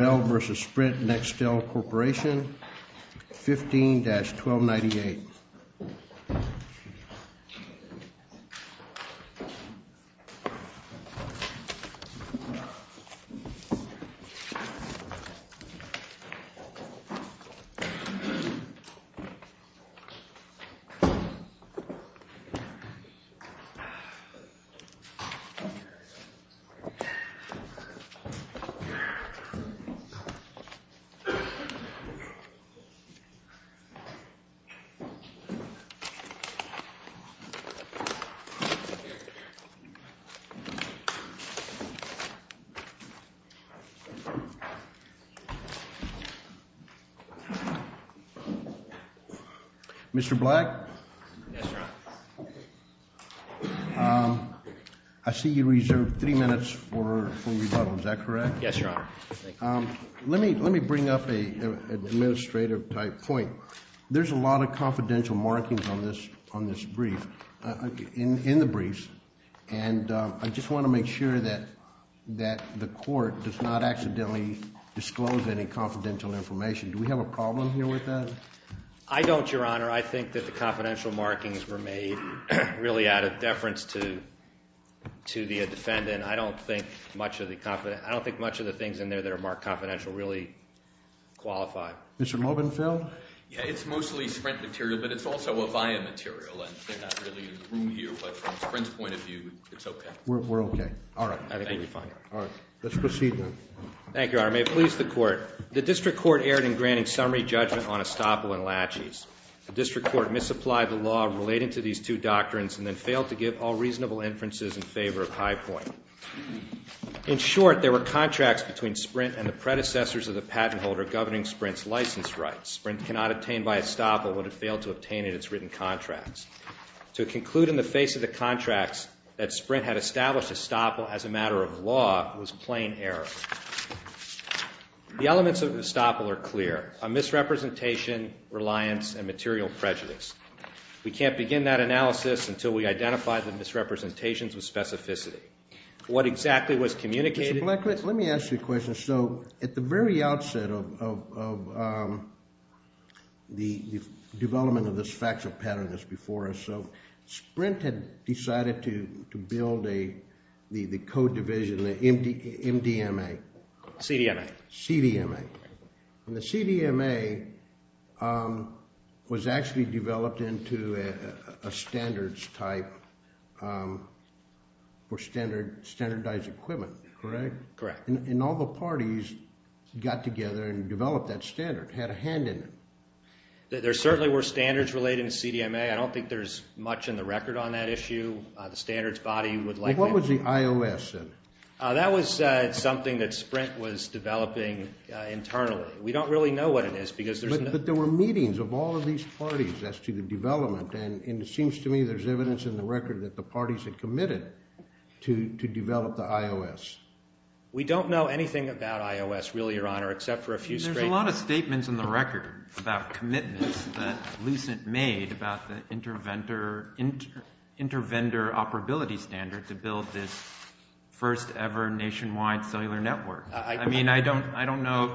15-1298 Mr. Black, I see you reserved three minutes for rebuttal, is that correct? Yes, Your Honor. Let me bring up an administrative type point. There's a lot of confidential markings on this brief, in the briefs, and I just want to make sure that the court does not accidentally disclose any confidential information. Do we have a problem here with that? I don't, Your Honor. I think that the confidential markings were made really out of deference to the defendant. I don't think much of the things in there that are marked confidential really qualify. Mr. Mobenfeld? Yeah, it's mostly Sprint material, but it's also Avaya material, and there's not really room here, but from Sprint's point of view, it's okay. We're okay. All right. Thank you. All right. Let's proceed then. Thank you, Your Honor. May it please the Court. The District Court erred in granting summary judgment on estoppel and laches. The District Court misapplied the law relating to these two doctrines and then failed to give all reasonable inferences in favor of High Point. In short, there were contracts between Sprint and the predecessors of the patent holder governing Sprint's license rights. Sprint cannot obtain by estoppel what it failed to obtain in its written contracts. To conclude in the face of the contracts that Sprint had established estoppel as a matter of law was plain error. The elements of estoppel are clear, a misrepresentation, reliance, and material prejudice. We can't begin that analysis until we identify the misrepresentations with specificity. What exactly was communicated? Mr. Black, let me ask you a question. So at the very outset of the development of this factual pattern that's before us, Sprint had decided to build the code division, the MDMA. CDMA. CDMA. And the CDMA was actually developed into a standards type for standardized equipment, correct? Correct. And all the parties got together and developed that standard, had a hand in it. There certainly were standards related to CDMA. I don't think there's much in the record on that issue. The standards body would like that. What was the IOS then? That was something that Sprint was developing internally. We don't really know what it is because there's no – But there were meetings of all of these parties as to the development, and it seems to me there's evidence in the record that the parties had committed to develop the IOS. We don't know anything about IOS, really, Your Honor, except for a few statements. There's a lot of statements in the record about commitments that Lucent made about the inter-vendor operability standard to build this first ever nationwide cellular network. I mean, I don't know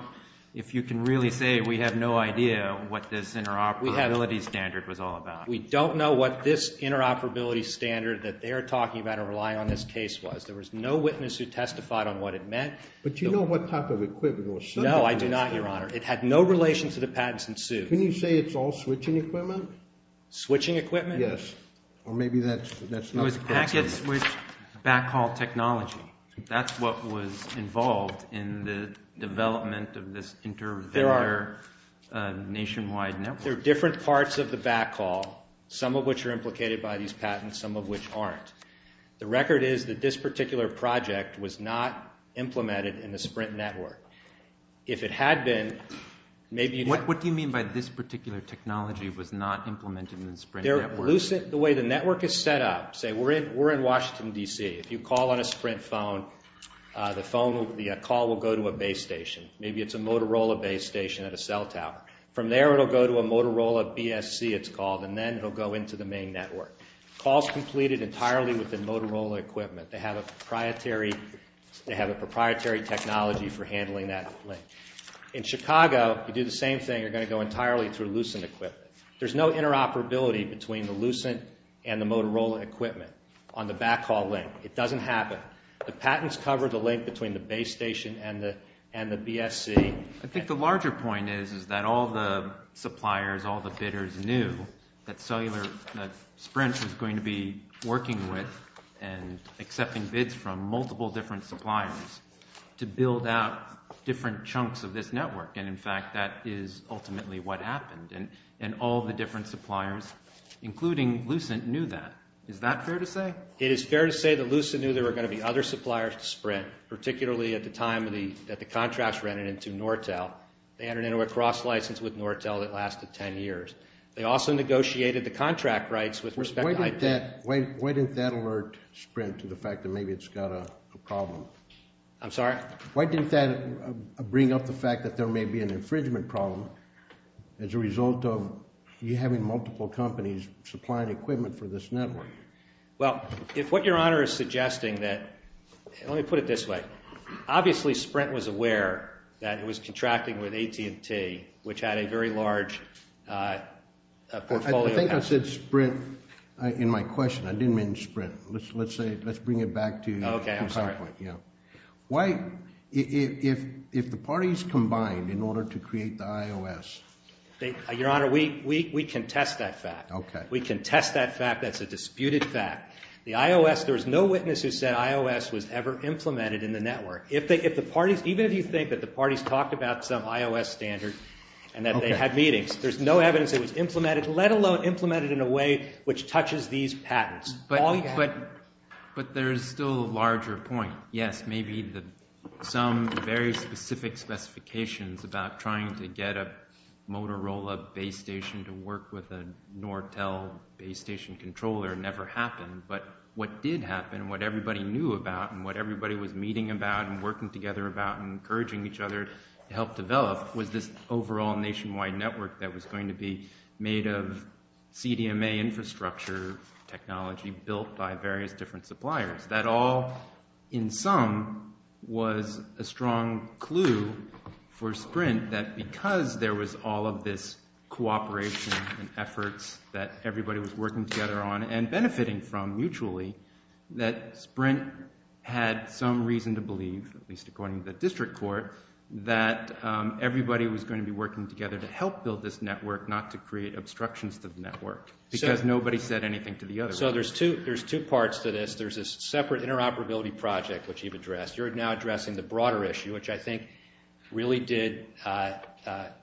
if you can really say we have no idea what this interoperability standard was all about. We don't know what this interoperability standard that they're talking about or rely on in this case was. There was no witness who testified on what it meant. But you know what type of equipment it was? No, I do not, Your Honor. It had no relation to the patents and suits. Can you say it's all switching equipment? Switching equipment? Yes. Or maybe that's not the correct statement. It was packet switch backhaul technology. That's what was involved in the development of this inter-vendor nationwide network. There are different parts of the backhaul, some of which are implicated by these patents, some of which aren't. The record is that this particular project was not implemented in the Sprint network. If it had been, maybe you'd have to… What do you mean by this particular technology was not implemented in the Sprint network? The way the network is set up, say we're in Washington, D.C. If you call on a Sprint phone, the call will go to a base station. Maybe it's a Motorola base station at a cell tower. From there, it will go to a Motorola BSC, it's called, and then it will go into the main network. Call is completed entirely with the Motorola equipment. They have a proprietary technology for handling that link. In Chicago, you do the same thing. You're going to go entirely through Lucent equipment. There's no interoperability between the Lucent and the Motorola equipment on the backhaul link. It doesn't happen. The patents cover the link between the base station and the BSC. I think the larger point is that all the suppliers, all the bidders knew that Sprint was going to be working with and accepting bids from multiple different suppliers to build out different chunks of this network. In fact, that is ultimately what happened. All the different suppliers, including Lucent, knew that. Is that fair to say? It is fair to say that Lucent knew there were going to be other suppliers to Sprint, particularly at the time that the contracts rented into Nortel. They entered into a cross-license with Nortel that lasted 10 years. They also negotiated the contract rights with respect to IP. Why didn't that alert Sprint to the fact that maybe it's got a problem? I'm sorry? Why didn't that bring up the fact that there may be an infringement problem as a result of you having multiple companies supplying equipment for this network? Let me put it this way. Obviously Sprint was aware that it was contracting with AT&T, which had a very large portfolio. I think I said Sprint in my question. I didn't mean Sprint. Let's bring it back to PowerPoint. If the parties combined in order to create the iOS. Your Honor, we contest that fact. We contest that fact. That's a disputed fact. The iOS, there was no witness who said iOS was ever implemented in the network. Even if you think that the parties talked about some iOS standard and that they had meetings, there's no evidence it was implemented, let alone implemented in a way which touches these patterns. But there's still a larger point. Yes, maybe some very specific specifications about trying to get a Motorola base station to work with a Nortel base station controller never happened. But what did happen, what everybody knew about, and what everybody was meeting about and working together about and encouraging each other to help develop, was this overall nationwide network that was going to be made of CDMA infrastructure technology built by various different suppliers. That all, in sum, was a strong clue for Sprint that because there was all of this cooperation and efforts that everybody was working together on and benefiting from mutually, that Sprint had some reason to believe, at least according to the district court, that everybody was going to be working together to help build this network, not to create obstructions to the network. Because nobody said anything to the other party. So there's two parts to this. There's a separate interoperability project, which you've addressed. You're now addressing the broader issue, which I think really did have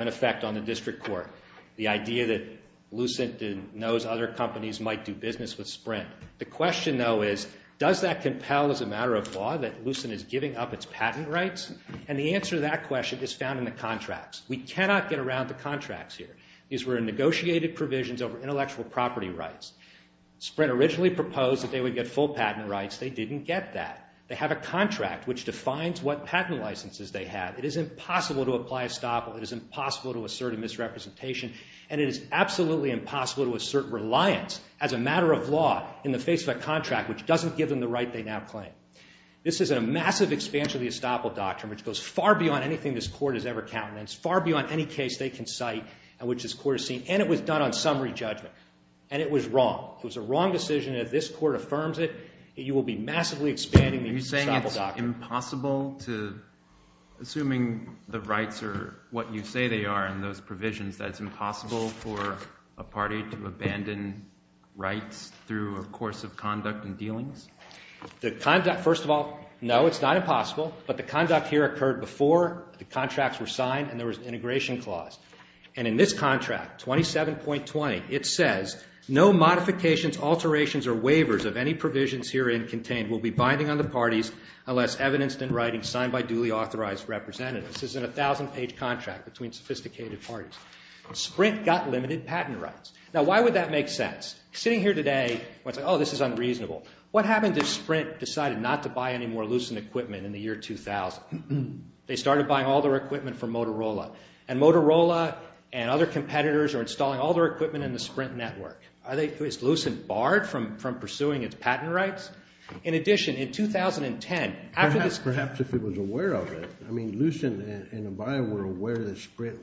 an effect on the district court, the idea that Lucent knows other companies might do business with Sprint. The question, though, is does that compel as a matter of law that Lucent is giving up its patent rights? And the answer to that question is found in the contracts. We cannot get around the contracts here. These were negotiated provisions over intellectual property rights. Sprint originally proposed that they would get full patent rights. They didn't get that. They have a contract which defines what patent licenses they have. It is impossible to apply estoppel. It is impossible to assert a misrepresentation, and it is absolutely impossible to assert reliance as a matter of law in the face of a contract which doesn't give them the right they now claim. This is a massive expansion of the estoppel doctrine, which goes far beyond anything this court has ever counted, and it's far beyond any case they can cite in which this court has seen, and it was done on summary judgment, and it was wrong. It was a wrong decision, and if this court affirms it, you will be massively expanding the estoppel doctrine. Are you saying it's impossible to, assuming the rights are what you say they are in those provisions, that it's impossible for a party to abandon rights through a course of conduct and dealings? The conduct, first of all, no, it's not impossible, but the conduct here occurred before the contracts were signed and there was an integration clause, and in this contract, 27.20, it says, no modifications, alterations, or waivers of any provisions herein contained will be binding on the parties unless evidenced in writing signed by duly authorized representatives. This is a 1,000-page contract between sophisticated parties. Sprint got limited patent rights. Now, why would that make sense? Sitting here today, oh, this is unreasonable. What happened if Sprint decided not to buy any more Lucent equipment in the year 2000? They started buying all their equipment from Motorola, and Motorola and other competitors are installing all their equipment in the Sprint network. Is Lucent barred from pursuing its patent rights? In addition, in 2010, after this- Perhaps if it was aware of it. I mean, Lucent and Avaya were aware that Sprint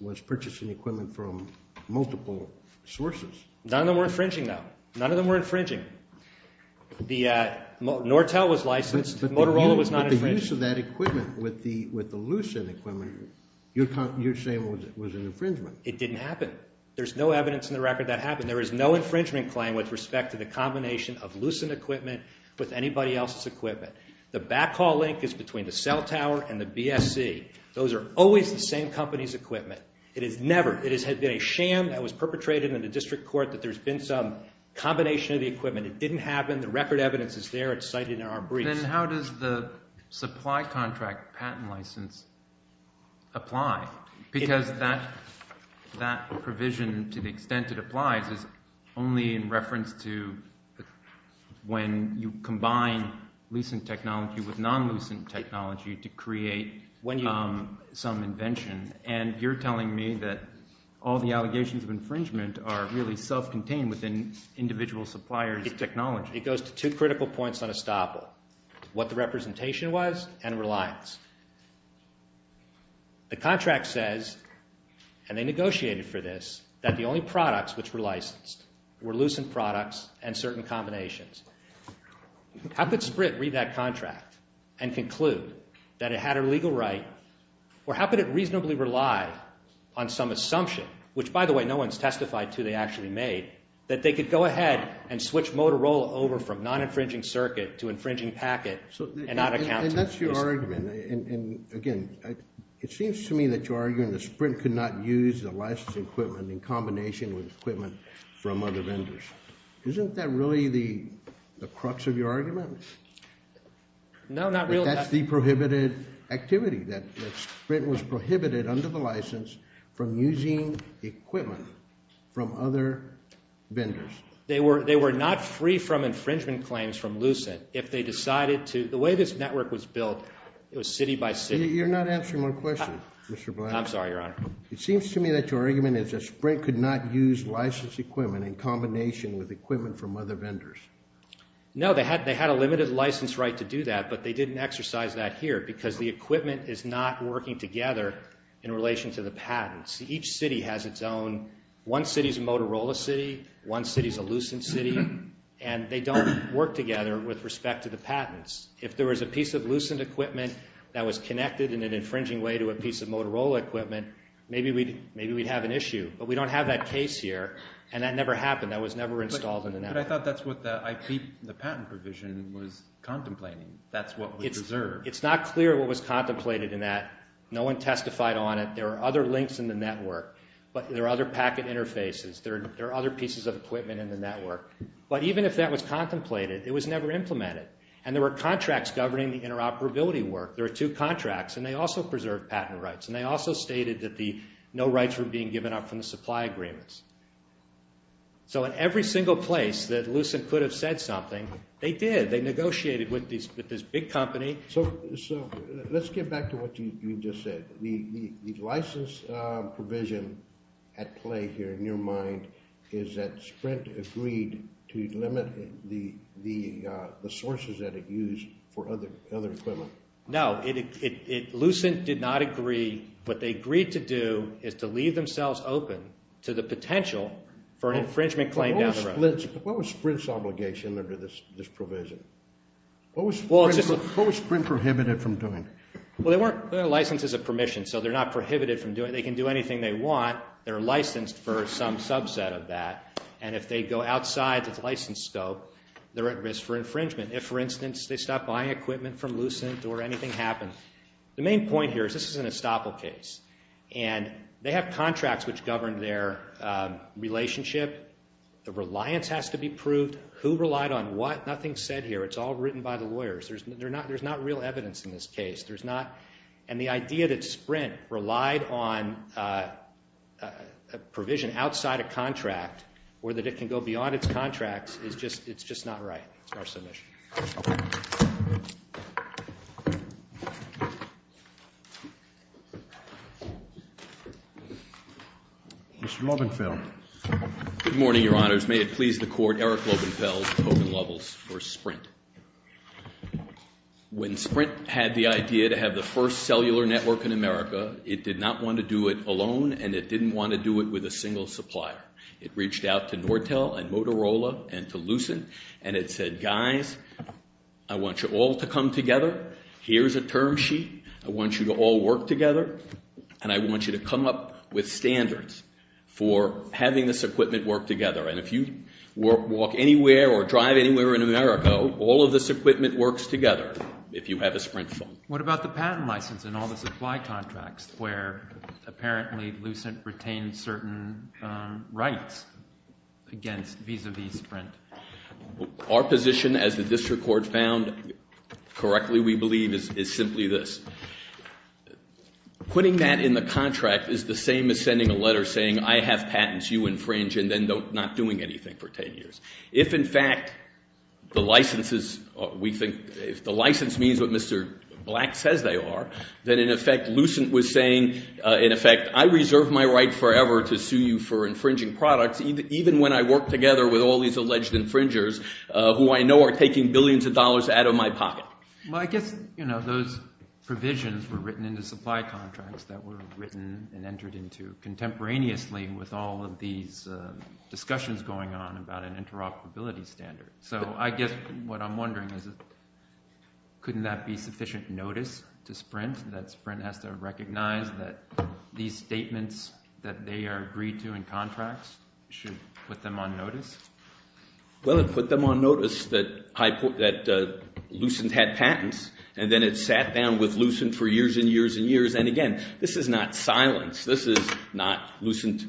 was purchasing equipment from multiple sources. None of them were infringing, though. Nortel was licensed. Motorola was not infringed. But the use of that equipment with the Lucent equipment, you're saying was an infringement. It didn't happen. There's no evidence in the record that happened. There is no infringement claim with respect to the combination of Lucent equipment with anybody else's equipment. The backhaul link is between the cell tower and the BSC. Those are always the same company's equipment. It has never, it has been a sham that was perpetrated in the district court that there's been some combination of the equipment. It didn't happen. The record evidence is there. It's cited in our briefs. Then how does the supply contract patent license apply? Because that provision, to the extent it applies, is only in reference to when you combine Lucent technology with non-Lucent technology to create some invention, and you're telling me that all the allegations of infringement are really self-contained within individual suppliers' technology. It goes to two critical points on estoppel. What the representation was and reliance. The contract says, and they negotiated for this, that the only products which were licensed were Lucent products and certain combinations. How could Sprint read that contract and conclude that it had a legal right, or how could it reasonably rely on some assumption, which, by the way, no one's testified to, they actually made, that they could go ahead and switch Motorola over from non-infringing circuit to infringing packet and not account for this? And that's your argument. And, again, it seems to me that you're arguing that Sprint could not use the license equipment in combination with equipment from other vendors. Isn't that really the crux of your argument? No, not really. But that's the prohibited activity, that Sprint was prohibited under the license from using equipment from other vendors. They were not free from infringement claims from Lucent if they decided to. The way this network was built, it was city by city. You're not answering my question, Mr. Blanton. I'm sorry, Your Honor. It seems to me that your argument is that Sprint could not use license equipment in combination with equipment from other vendors. No, they had a limited license right to do that, but they didn't exercise that here because the equipment is not working together in relation to the patents. Each city has its own. One city's a Motorola city, one city's a Lucent city, and they don't work together with respect to the patents. If there was a piece of Lucent equipment that was connected in an infringing way to a piece of Motorola equipment, maybe we'd have an issue. But we don't have that case here, and that never happened. That was never installed in the network. But I thought that's what the patent provision was contemplating. That's what we deserve. It's not clear what was contemplated in that. No one testified on it. There are other links in the network. There are other packet interfaces. There are other pieces of equipment in the network. But even if that was contemplated, it was never implemented, and there were contracts governing the interoperability work. There were two contracts, and they also preserved patent rights, and they also stated that no rights were being given up from the supply agreements. So in every single place that Lucent could have said something, they did. They negotiated with this big company. So let's get back to what you just said. The license provision at play here in your mind is that Sprint agreed to limit the sources that it used for other equipment. No. Lucent did not agree. What they agreed to do is to leave themselves open to the potential for an infringement claim down the road. What was Sprint's obligation under this provision? What was Sprint prohibited from doing? Well, they weren't licensed as a permission, so they're not prohibited from doing it. They can do anything they want. They're licensed for some subset of that. And if they go outside the license scope, they're at risk for infringement. If, for instance, they stop buying equipment from Lucent or anything happens. The main point here is this is an estoppel case, and they have contracts which govern their relationship. The reliance has to be proved. Who relied on what? Nothing's said here. It's all written by the lawyers. There's not real evidence in this case. And the idea that Sprint relied on a provision outside a contract or that it can go beyond its contracts is just not right. That's our submission. Thank you. Mr. Lobenfell. Good morning, Your Honors. May it please the Court, Eric Lobenfell, Hogan Lovels v. Sprint. When Sprint had the idea to have the first cellular network in America, it did not want to do it alone, and it didn't want to do it with a single supplier. It reached out to Nortel and Motorola and to Lucent, and it said, guys, I want you all to come together. Here's a term sheet. I want you to all work together, and I want you to come up with standards for having this equipment work together. And if you walk anywhere or drive anywhere in America, all of this equipment works together if you have a Sprint phone. What about the patent license and all the supply contracts where apparently Lucent retained certain rights against Visa v. Sprint? Our position, as the district court found correctly, we believe, is simply this. Putting that in the contract is the same as sending a letter saying, I have patents, you infringe, and then not doing anything for 10 years. If, in fact, the license means what Mr. Black says they are, then, in effect, Lucent was saying, in effect, I reserve my right forever to sue you for infringing products even when I work together with all these alleged infringers who I know are taking billions of dollars out of my pocket. Well, I guess those provisions were written in the supply contracts that were written and entered into contemporaneously with all of these discussions going on about an interoperability standard. So I guess what I'm wondering is couldn't that be sufficient notice to Sprint that Sprint has to recognize that these statements that they are agreed to in contracts should put them on notice? Well, it put them on notice that Lucent had patents, and then it sat down with Lucent for years and years and years, and again, this is not silence. This is not Lucent,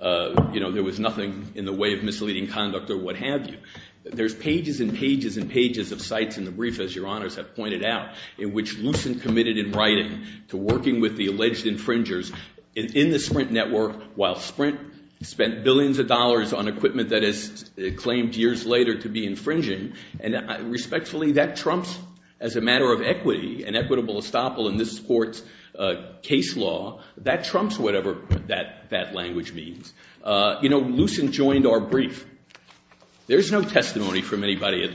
you know, there was nothing in the way of misleading conduct or what have you. There's pages and pages and pages of sites in the brief, as your honors have pointed out, in which Lucent committed in writing to working with the alleged infringers in the Sprint network while Sprint spent billions of dollars on equipment that it claimed years later to be infringing, and respectfully, that trumps, as a matter of equity, an equitable estoppel in this court's case law, that trumps whatever that language means. You know, Lucent joined our brief. There's no testimony from anybody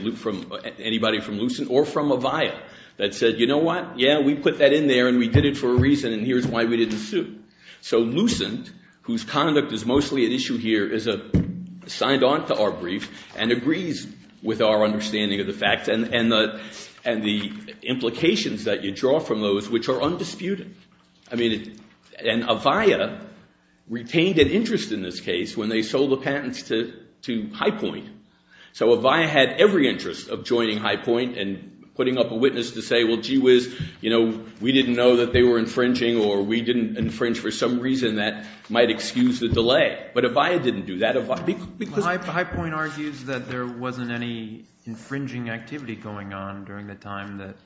from Lucent or from Avaya that said, you know what, yeah, we put that in there and we did it for a reason and here's why we didn't sue. So Lucent, whose conduct is mostly at issue here, is signed on to our brief and agrees with our understanding of the facts and the implications that you draw from those, which are undisputed. I mean, and Avaya retained an interest in this case when they sold the patents to Highpoint. So Avaya had every interest of joining Highpoint and putting up a witness to say, well, gee whiz, you know, we didn't know that they were infringing or we didn't infringe for some reason that might excuse the delay. But Avaya didn't do that. Highpoint argues that there wasn't any infringing activity going on during the time that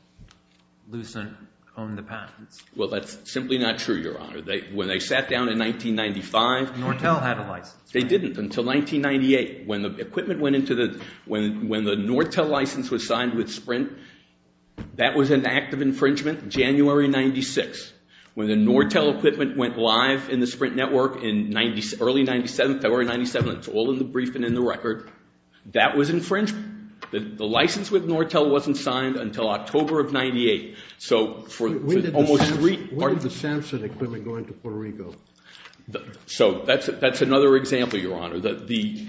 Lucent owned the patents. Well, that's simply not true, Your Honor. When they sat down in 1995. Nortel had a license. They didn't until 1998. When the equipment went into the ñ when the Nortel license was signed with Sprint, that was an act of infringement January 96. When the Nortel equipment went live in the Sprint network in early 97, February 97, it's all in the brief and in the record, that was infringement. The license with Nortel wasn't signed until October of 98. When did the Samsung equipment go into Puerto Rico? So that's another example, Your Honor. The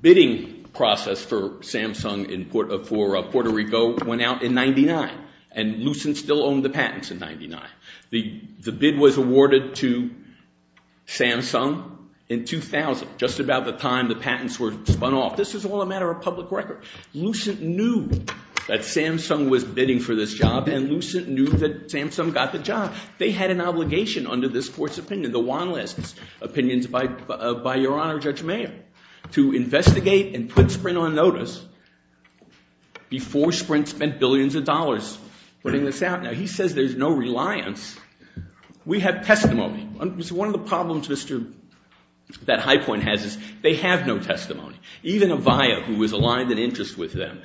bidding process for Samsung for Puerto Rico went out in 99, and Lucent still owned the patents in 99. The bid was awarded to Samsung in 2000, just about the time the patents were spun off. This is all a matter of public record. Lucent knew that Samsung was bidding for this job, and Lucent knew that Samsung got the job. They had an obligation under this court's opinion, the Juan List opinions by Your Honor, Judge Mayer, to investigate and put Sprint on notice before Sprint spent billions of dollars putting this out. Now, he says there's no reliance. We have testimony. One of the problems Mr. ñ that Highpoint has is they have no testimony. Even Avaya, who was aligned in interest with them,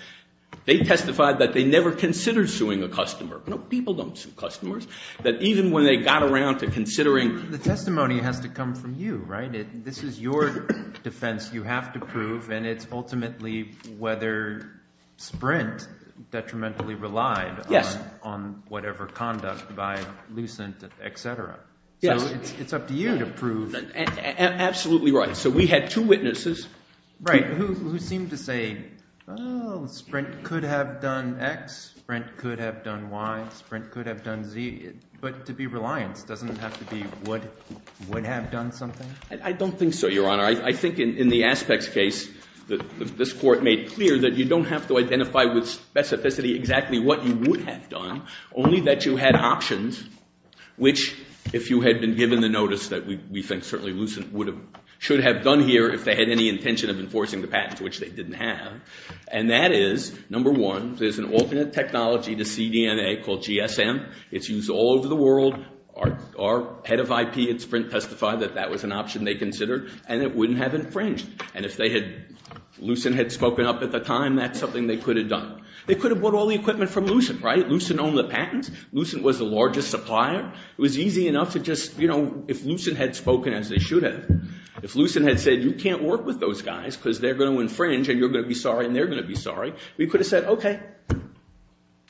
they testified that they never considered suing a customer. No, people don't sue customers. That even when they got around to considering ñ The testimony has to come from you, right? This is your defense. You have to prove, and it's ultimately whether Sprint detrimentally relied on whatever conduct by Lucent, et cetera. Yes. So it's up to you to prove. Absolutely right. So we had two witnesses. Right. Who seemed to say, oh, Sprint could have done X, Sprint could have done Y, Sprint could have done Z, but to be reliant doesn't have to be would have done something? I don't think so, Your Honor. I think in the Aspects case, this court made clear that you don't have to identify with specificity exactly what you would have done, only that you had options, which if you had been given the notice that we think certainly Lucent should have done here if they had any intention of enforcing the patent, which they didn't have, and that is, number one, there's an alternate technology to cDNA called GSM. It's used all over the world. Our head of IP at Sprint testified that that was an option they considered, and it wouldn't have infringed, and if Lucent had spoken up at the time, that's something they could have done. They could have bought all the equipment from Lucent, right? All the patents. Lucent was the largest supplier. It was easy enough to just, you know, if Lucent had spoken as they should have, if Lucent had said you can't work with those guys because they're going to infringe and you're going to be sorry and they're going to be sorry, we could have said, okay,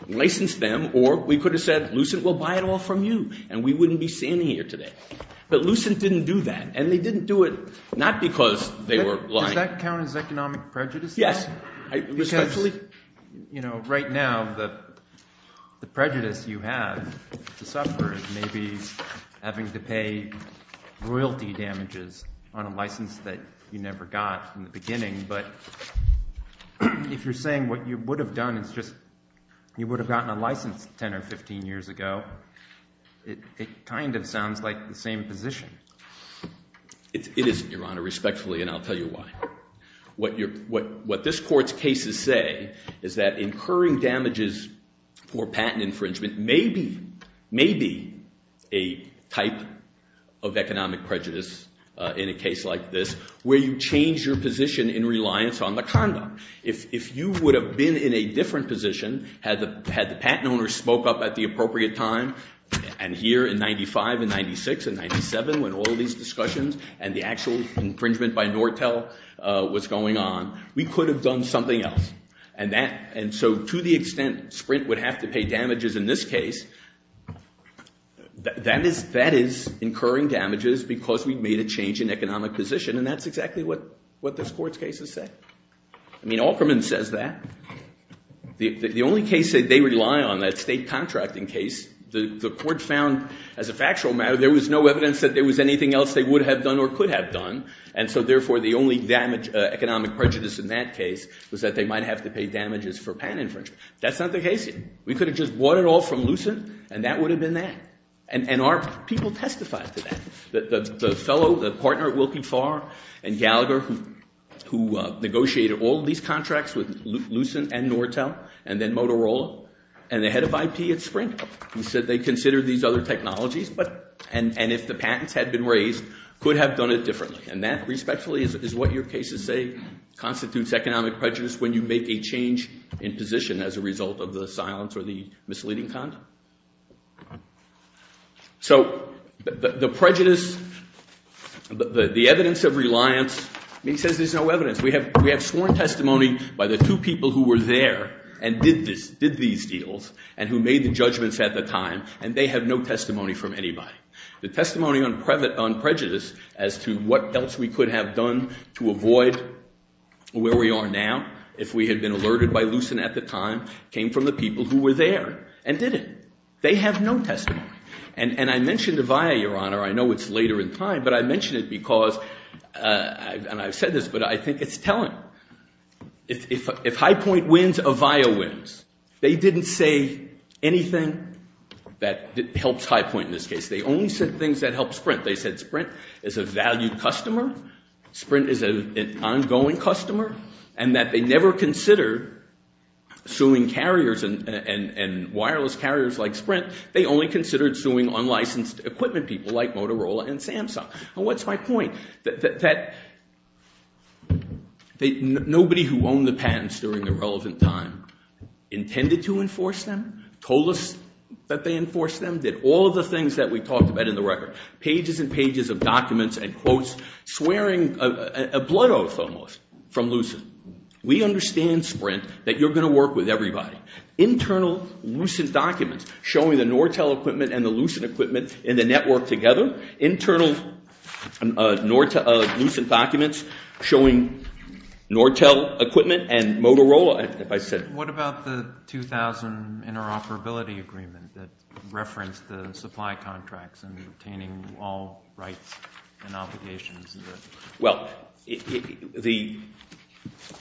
license them, or we could have said Lucent will buy it all from you, and we wouldn't be sitting here today. But Lucent didn't do that, and they didn't do it not because they were lying. Does that count as economic prejudice? Yes. Because, you know, right now the prejudice you have to suffer is maybe having to pay royalty damages on a license that you never got in the beginning, but if you're saying what you would have done is just you would have gotten a license 10 or 15 years ago, it kind of sounds like the same position. It isn't, Your Honor, respectfully, and I'll tell you why. What this Court's cases say is that incurring damages for patent infringement may be a type of economic prejudice in a case like this where you change your position in reliance on the conduct. If you would have been in a different position had the patent owner spoke up at the appropriate time, and here in 95 and 96 and 97 when all these discussions and the actual infringement by Nortel was going on, we could have done something else. And so to the extent Sprint would have to pay damages in this case, that is incurring damages because we made a change in economic position, and that's exactly what this Court's cases say. I mean, Aukerman says that. The only case that they rely on, that state contracting case, the Court found as a factual matter there was no evidence that there was anything else they would have done or could have done, and so therefore the only damage, economic prejudice in that case was that they might have to pay damages for patent infringement. That's not the case here. We could have just bought it all from Lucent, and that would have been that. And our people testified to that. The fellow, the partner at Wilkie Farr and Gallagher who negotiated all these contracts with Lucent and Nortel and then Motorola and the head of IP at Sprint who said they considered these other technologies and if the patents had been raised could have done it differently, and that respectfully is what your cases say constitutes economic prejudice when you make a change in position as a result of the silence or the misleading conduct. So the prejudice, the evidence of reliance, he says there's no evidence. We have sworn testimony by the two people who were there and did these deals and who made the judgments at the time, and they have no testimony from anybody. The testimony on prejudice as to what else we could have done to avoid where we are now if we had been alerted by Lucent at the time came from the people who were there and did it. They have no testimony. And I mentioned Avaya, Your Honor. I know it's later in time, but I mention it because, and I've said this, but I think it's telling. If High Point wins, Avaya wins. They didn't say anything that helps High Point in this case. They only said things that helped Sprint. They said Sprint is a valued customer, Sprint is an ongoing customer, and that they never considered suing carriers and wireless carriers like Sprint. They only considered suing unlicensed equipment people like Motorola and Samsung. And what's my point? That nobody who owned the patents during the relevant time intended to enforce them, told us that they enforced them, did all of the things that we talked about in the record, pages and pages of documents and quotes swearing a blood oath almost from Lucent. We understand Sprint that you're going to work with everybody. Internal Lucent documents showing the Nortel equipment and the Lucent equipment in the network together, internal Lucent documents showing Nortel equipment and Motorola, if I said it. What about the 2000 interoperability agreement that referenced the supply contracts and obtaining all rights and obligations? Well, the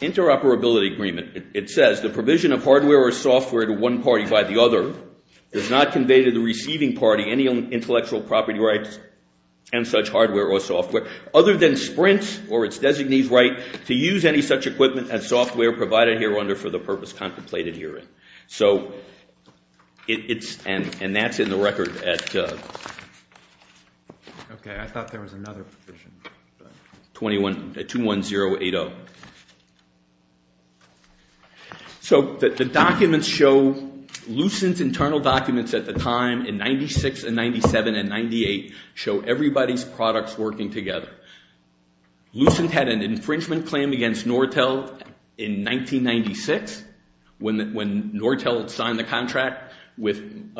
interoperability agreement, it says the provision of hardware or software to one party by the other does not convey to the receiving party any intellectual property rights and such hardware or software, other than Sprint or its designee's right to use any such equipment and software provided here under for the purpose contemplated herein. So it's and that's in the record at 21080. So the documents show Lucent's internal documents at the time in 96 and 97 and 98 show everybody's products working together. Lucent had an infringement claim against Nortel in 1996 when Nortel signed the contract with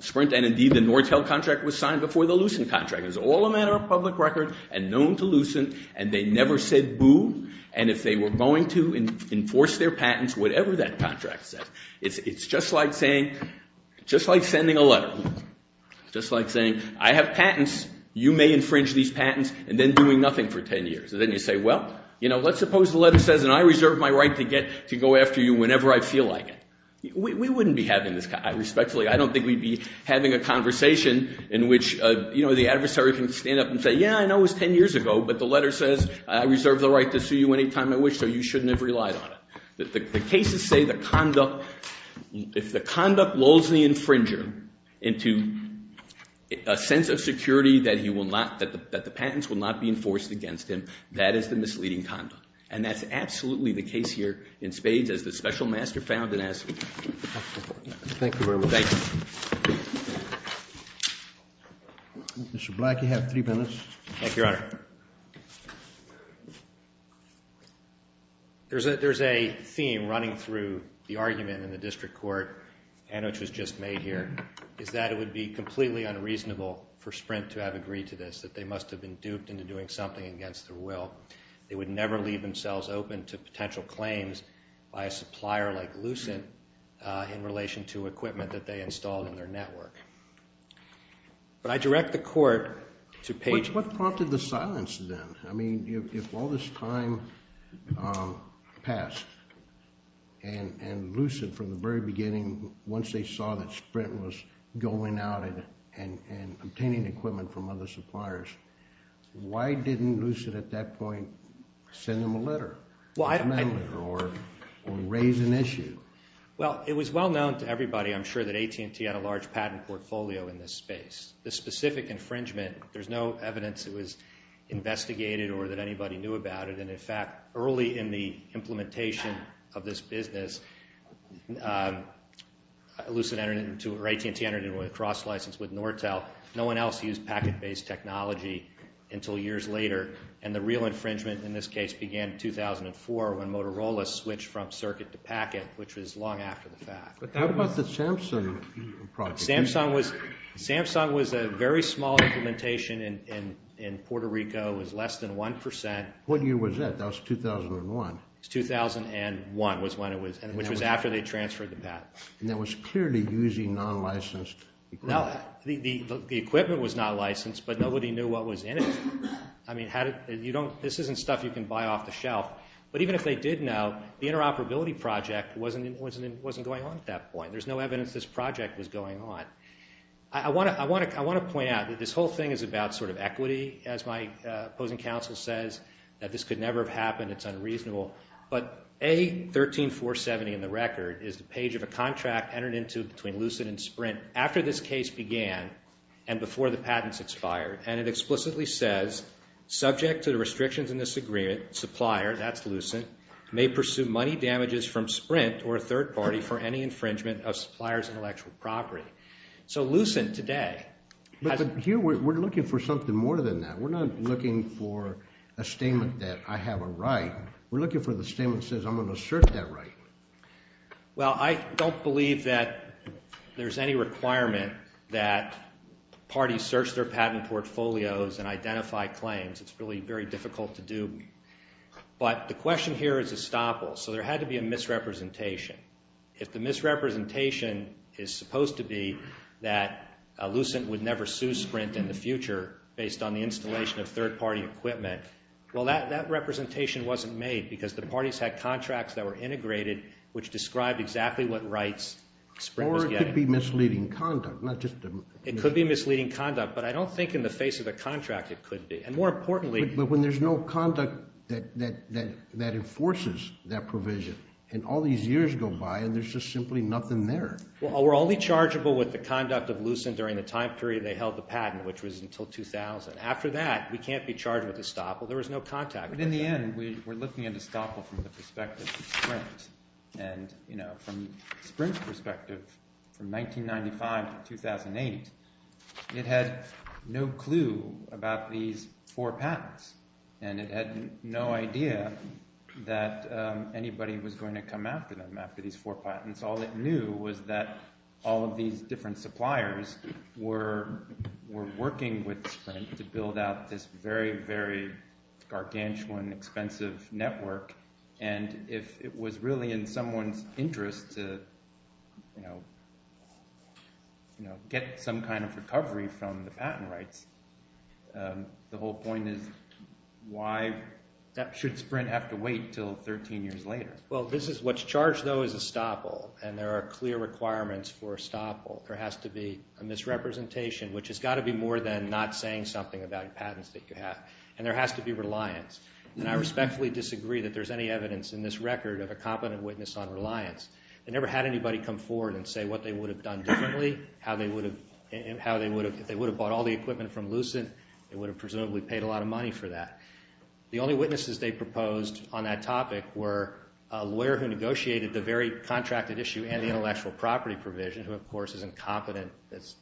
Sprint and indeed the Nortel contract was signed before the Lucent contract. It's all a matter of public record and known to Lucent and they never said boo and if they were going to enforce their patents, whatever that contract says. It's just like saying, just like sending a letter, just like saying I have patents, you may infringe these patents and then doing nothing for 10 years. And then you say, well, you know, let's suppose the letter says and I reserve my right to get to go after you whenever I feel like it. We wouldn't be having this respectfully. I don't think we'd be having a conversation in which, you know, the adversary can stand up and say, yeah, I know it was 10 years ago, but the letter says I reserve the right to sue you anytime I wish, so you shouldn't have relied on it. The cases say the conduct, if the conduct lulls the infringer into a sense of security that the patents will not be enforced against him, that is the misleading conduct and that's absolutely the case here in Spades as the special master found it as. Thank you very much. Thank you. Mr. Black, you have three minutes. Thank you, Your Honor. Your Honor, there's a theme running through the argument in the district court and which was just made here is that it would be completely unreasonable for Sprint to have agreed to this, that they must have been duped into doing something against their will. They would never leave themselves open to potential claims by a supplier like Lucent in relation to equipment that they installed in their network. But I direct the court to Page. What prompted the silence then? I mean, if all this time passed and Lucent from the very beginning, once they saw that Sprint was going out and obtaining equipment from other suppliers, why didn't Lucent at that point send them a letter or raise an issue? Well, it was well known to everybody, I'm sure, that AT&T had a large patent portfolio in this space. The specific infringement, there's no evidence it was investigated or that anybody knew about it. And, in fact, early in the implementation of this business, AT&T entered into a cross-license with Nortel. No one else used packet-based technology until years later. And the real infringement in this case began in 2004 when Motorola switched from circuit to packet, which was long after the fact. How about the Samsung project? Samsung was a very small implementation in Puerto Rico. It was less than one percent. What year was that? That was 2001. It was 2001, which was after they transferred the patent. And that was clearly using non-licensed equipment. The equipment was not licensed, but nobody knew what was in it. I mean, this isn't stuff you can buy off the shelf. But even if they did know, the interoperability project wasn't going on at that point. There's no evidence this project was going on. I want to point out that this whole thing is about sort of equity, as my opposing counsel says, that this could never have happened. It's unreasonable. But A13470 in the record is the page of a contract entered into between Lucid and Sprint after this case began and before the patents expired. And it explicitly says, subject to the restrictions in this agreement, supplier, that's Lucid, may pursue money damages from Sprint or a third party for any infringement of supplier's intellectual property. So Lucid today has... But here we're looking for something more than that. We're not looking for a statement that I have a right. We're looking for the statement that says I'm going to assert that right. Well, I don't believe that there's any requirement that parties search their patent portfolios and identify claims. It's really very difficult to do. But the question here is estoppel. So there had to be a misrepresentation. If the misrepresentation is supposed to be that Lucid would never sue Sprint in the future based on the installation of third party equipment, well, that representation wasn't made because the parties had contracts that were integrated which described exactly what rights Sprint was getting. Or it could be misleading conduct. It could be misleading conduct, but I don't think in the face of the contract it could be. And more importantly... But when there's no conduct that enforces that provision and all these years go by and there's just simply nothing there. Well, we're only chargeable with the conduct of Lucid during the time period they held the patent, which was until 2000. After that, we can't be charged with estoppel. There was no contact. But in the end, we're looking at estoppel from the perspective of Sprint. And, you know, from Sprint's perspective, from 1995 to 2008, it had no clue about these four patents. And it had no idea that anybody was going to come after them after these four patents. All it knew was that all of these different suppliers were working with Sprint to build out this very, very gargantuan, expensive network. And if it was really in someone's interest to get some kind of recovery from the patent rights, the whole point is, why should Sprint have to wait until 13 years later? Well, what's charged, though, is estoppel. And there are clear requirements for estoppel. There has to be a misrepresentation, which has got to be more than not saying something about patents that you have. And there has to be reliance. And I respectfully disagree that there's any evidence in this record of a competent witness on reliance. They never had anybody come forward and say what they would have done differently, how they would have... If they would have bought all the equipment from Lucent, they would have presumably paid a lot of money for that. The only witnesses they proposed on that topic were a lawyer who negotiated the very contracted issue and the intellectual property provision, who, of course, is incompetent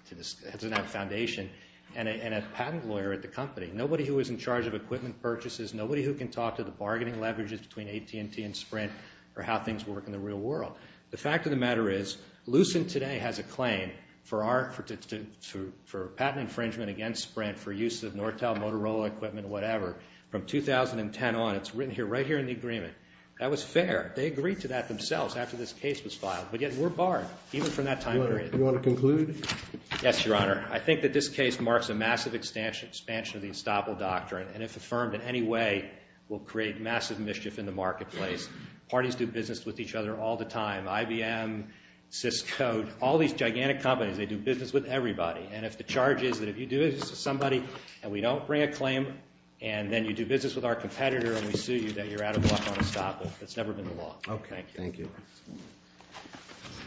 to that foundation, and a patent lawyer at the company. Nobody who was in charge of equipment purchases, nobody who can talk to the bargaining leverages between AT&T and Sprint or how things work in the real world. The fact of the matter is Lucent today has a claim for patent infringement against Sprint for use of Nortel Motorola equipment, whatever, from 2010 on. It's written right here in the agreement. That was fair. They agreed to that themselves after this case was filed. But yet we're barred, even from that time period. You want to conclude? Yes, Your Honor. I think that this case marks a massive expansion of the estoppel doctrine. And if affirmed in any way, we'll create massive mischief in the marketplace. Parties do business with each other all the time. IBM, Cisco, all these gigantic companies, they do business with everybody. And if the charge is that if you do business with somebody and we don't bring a claim and then you do business with our competitor and we sue you, then you're out of luck on estoppel. That's never been the law. Thank you. Thank you.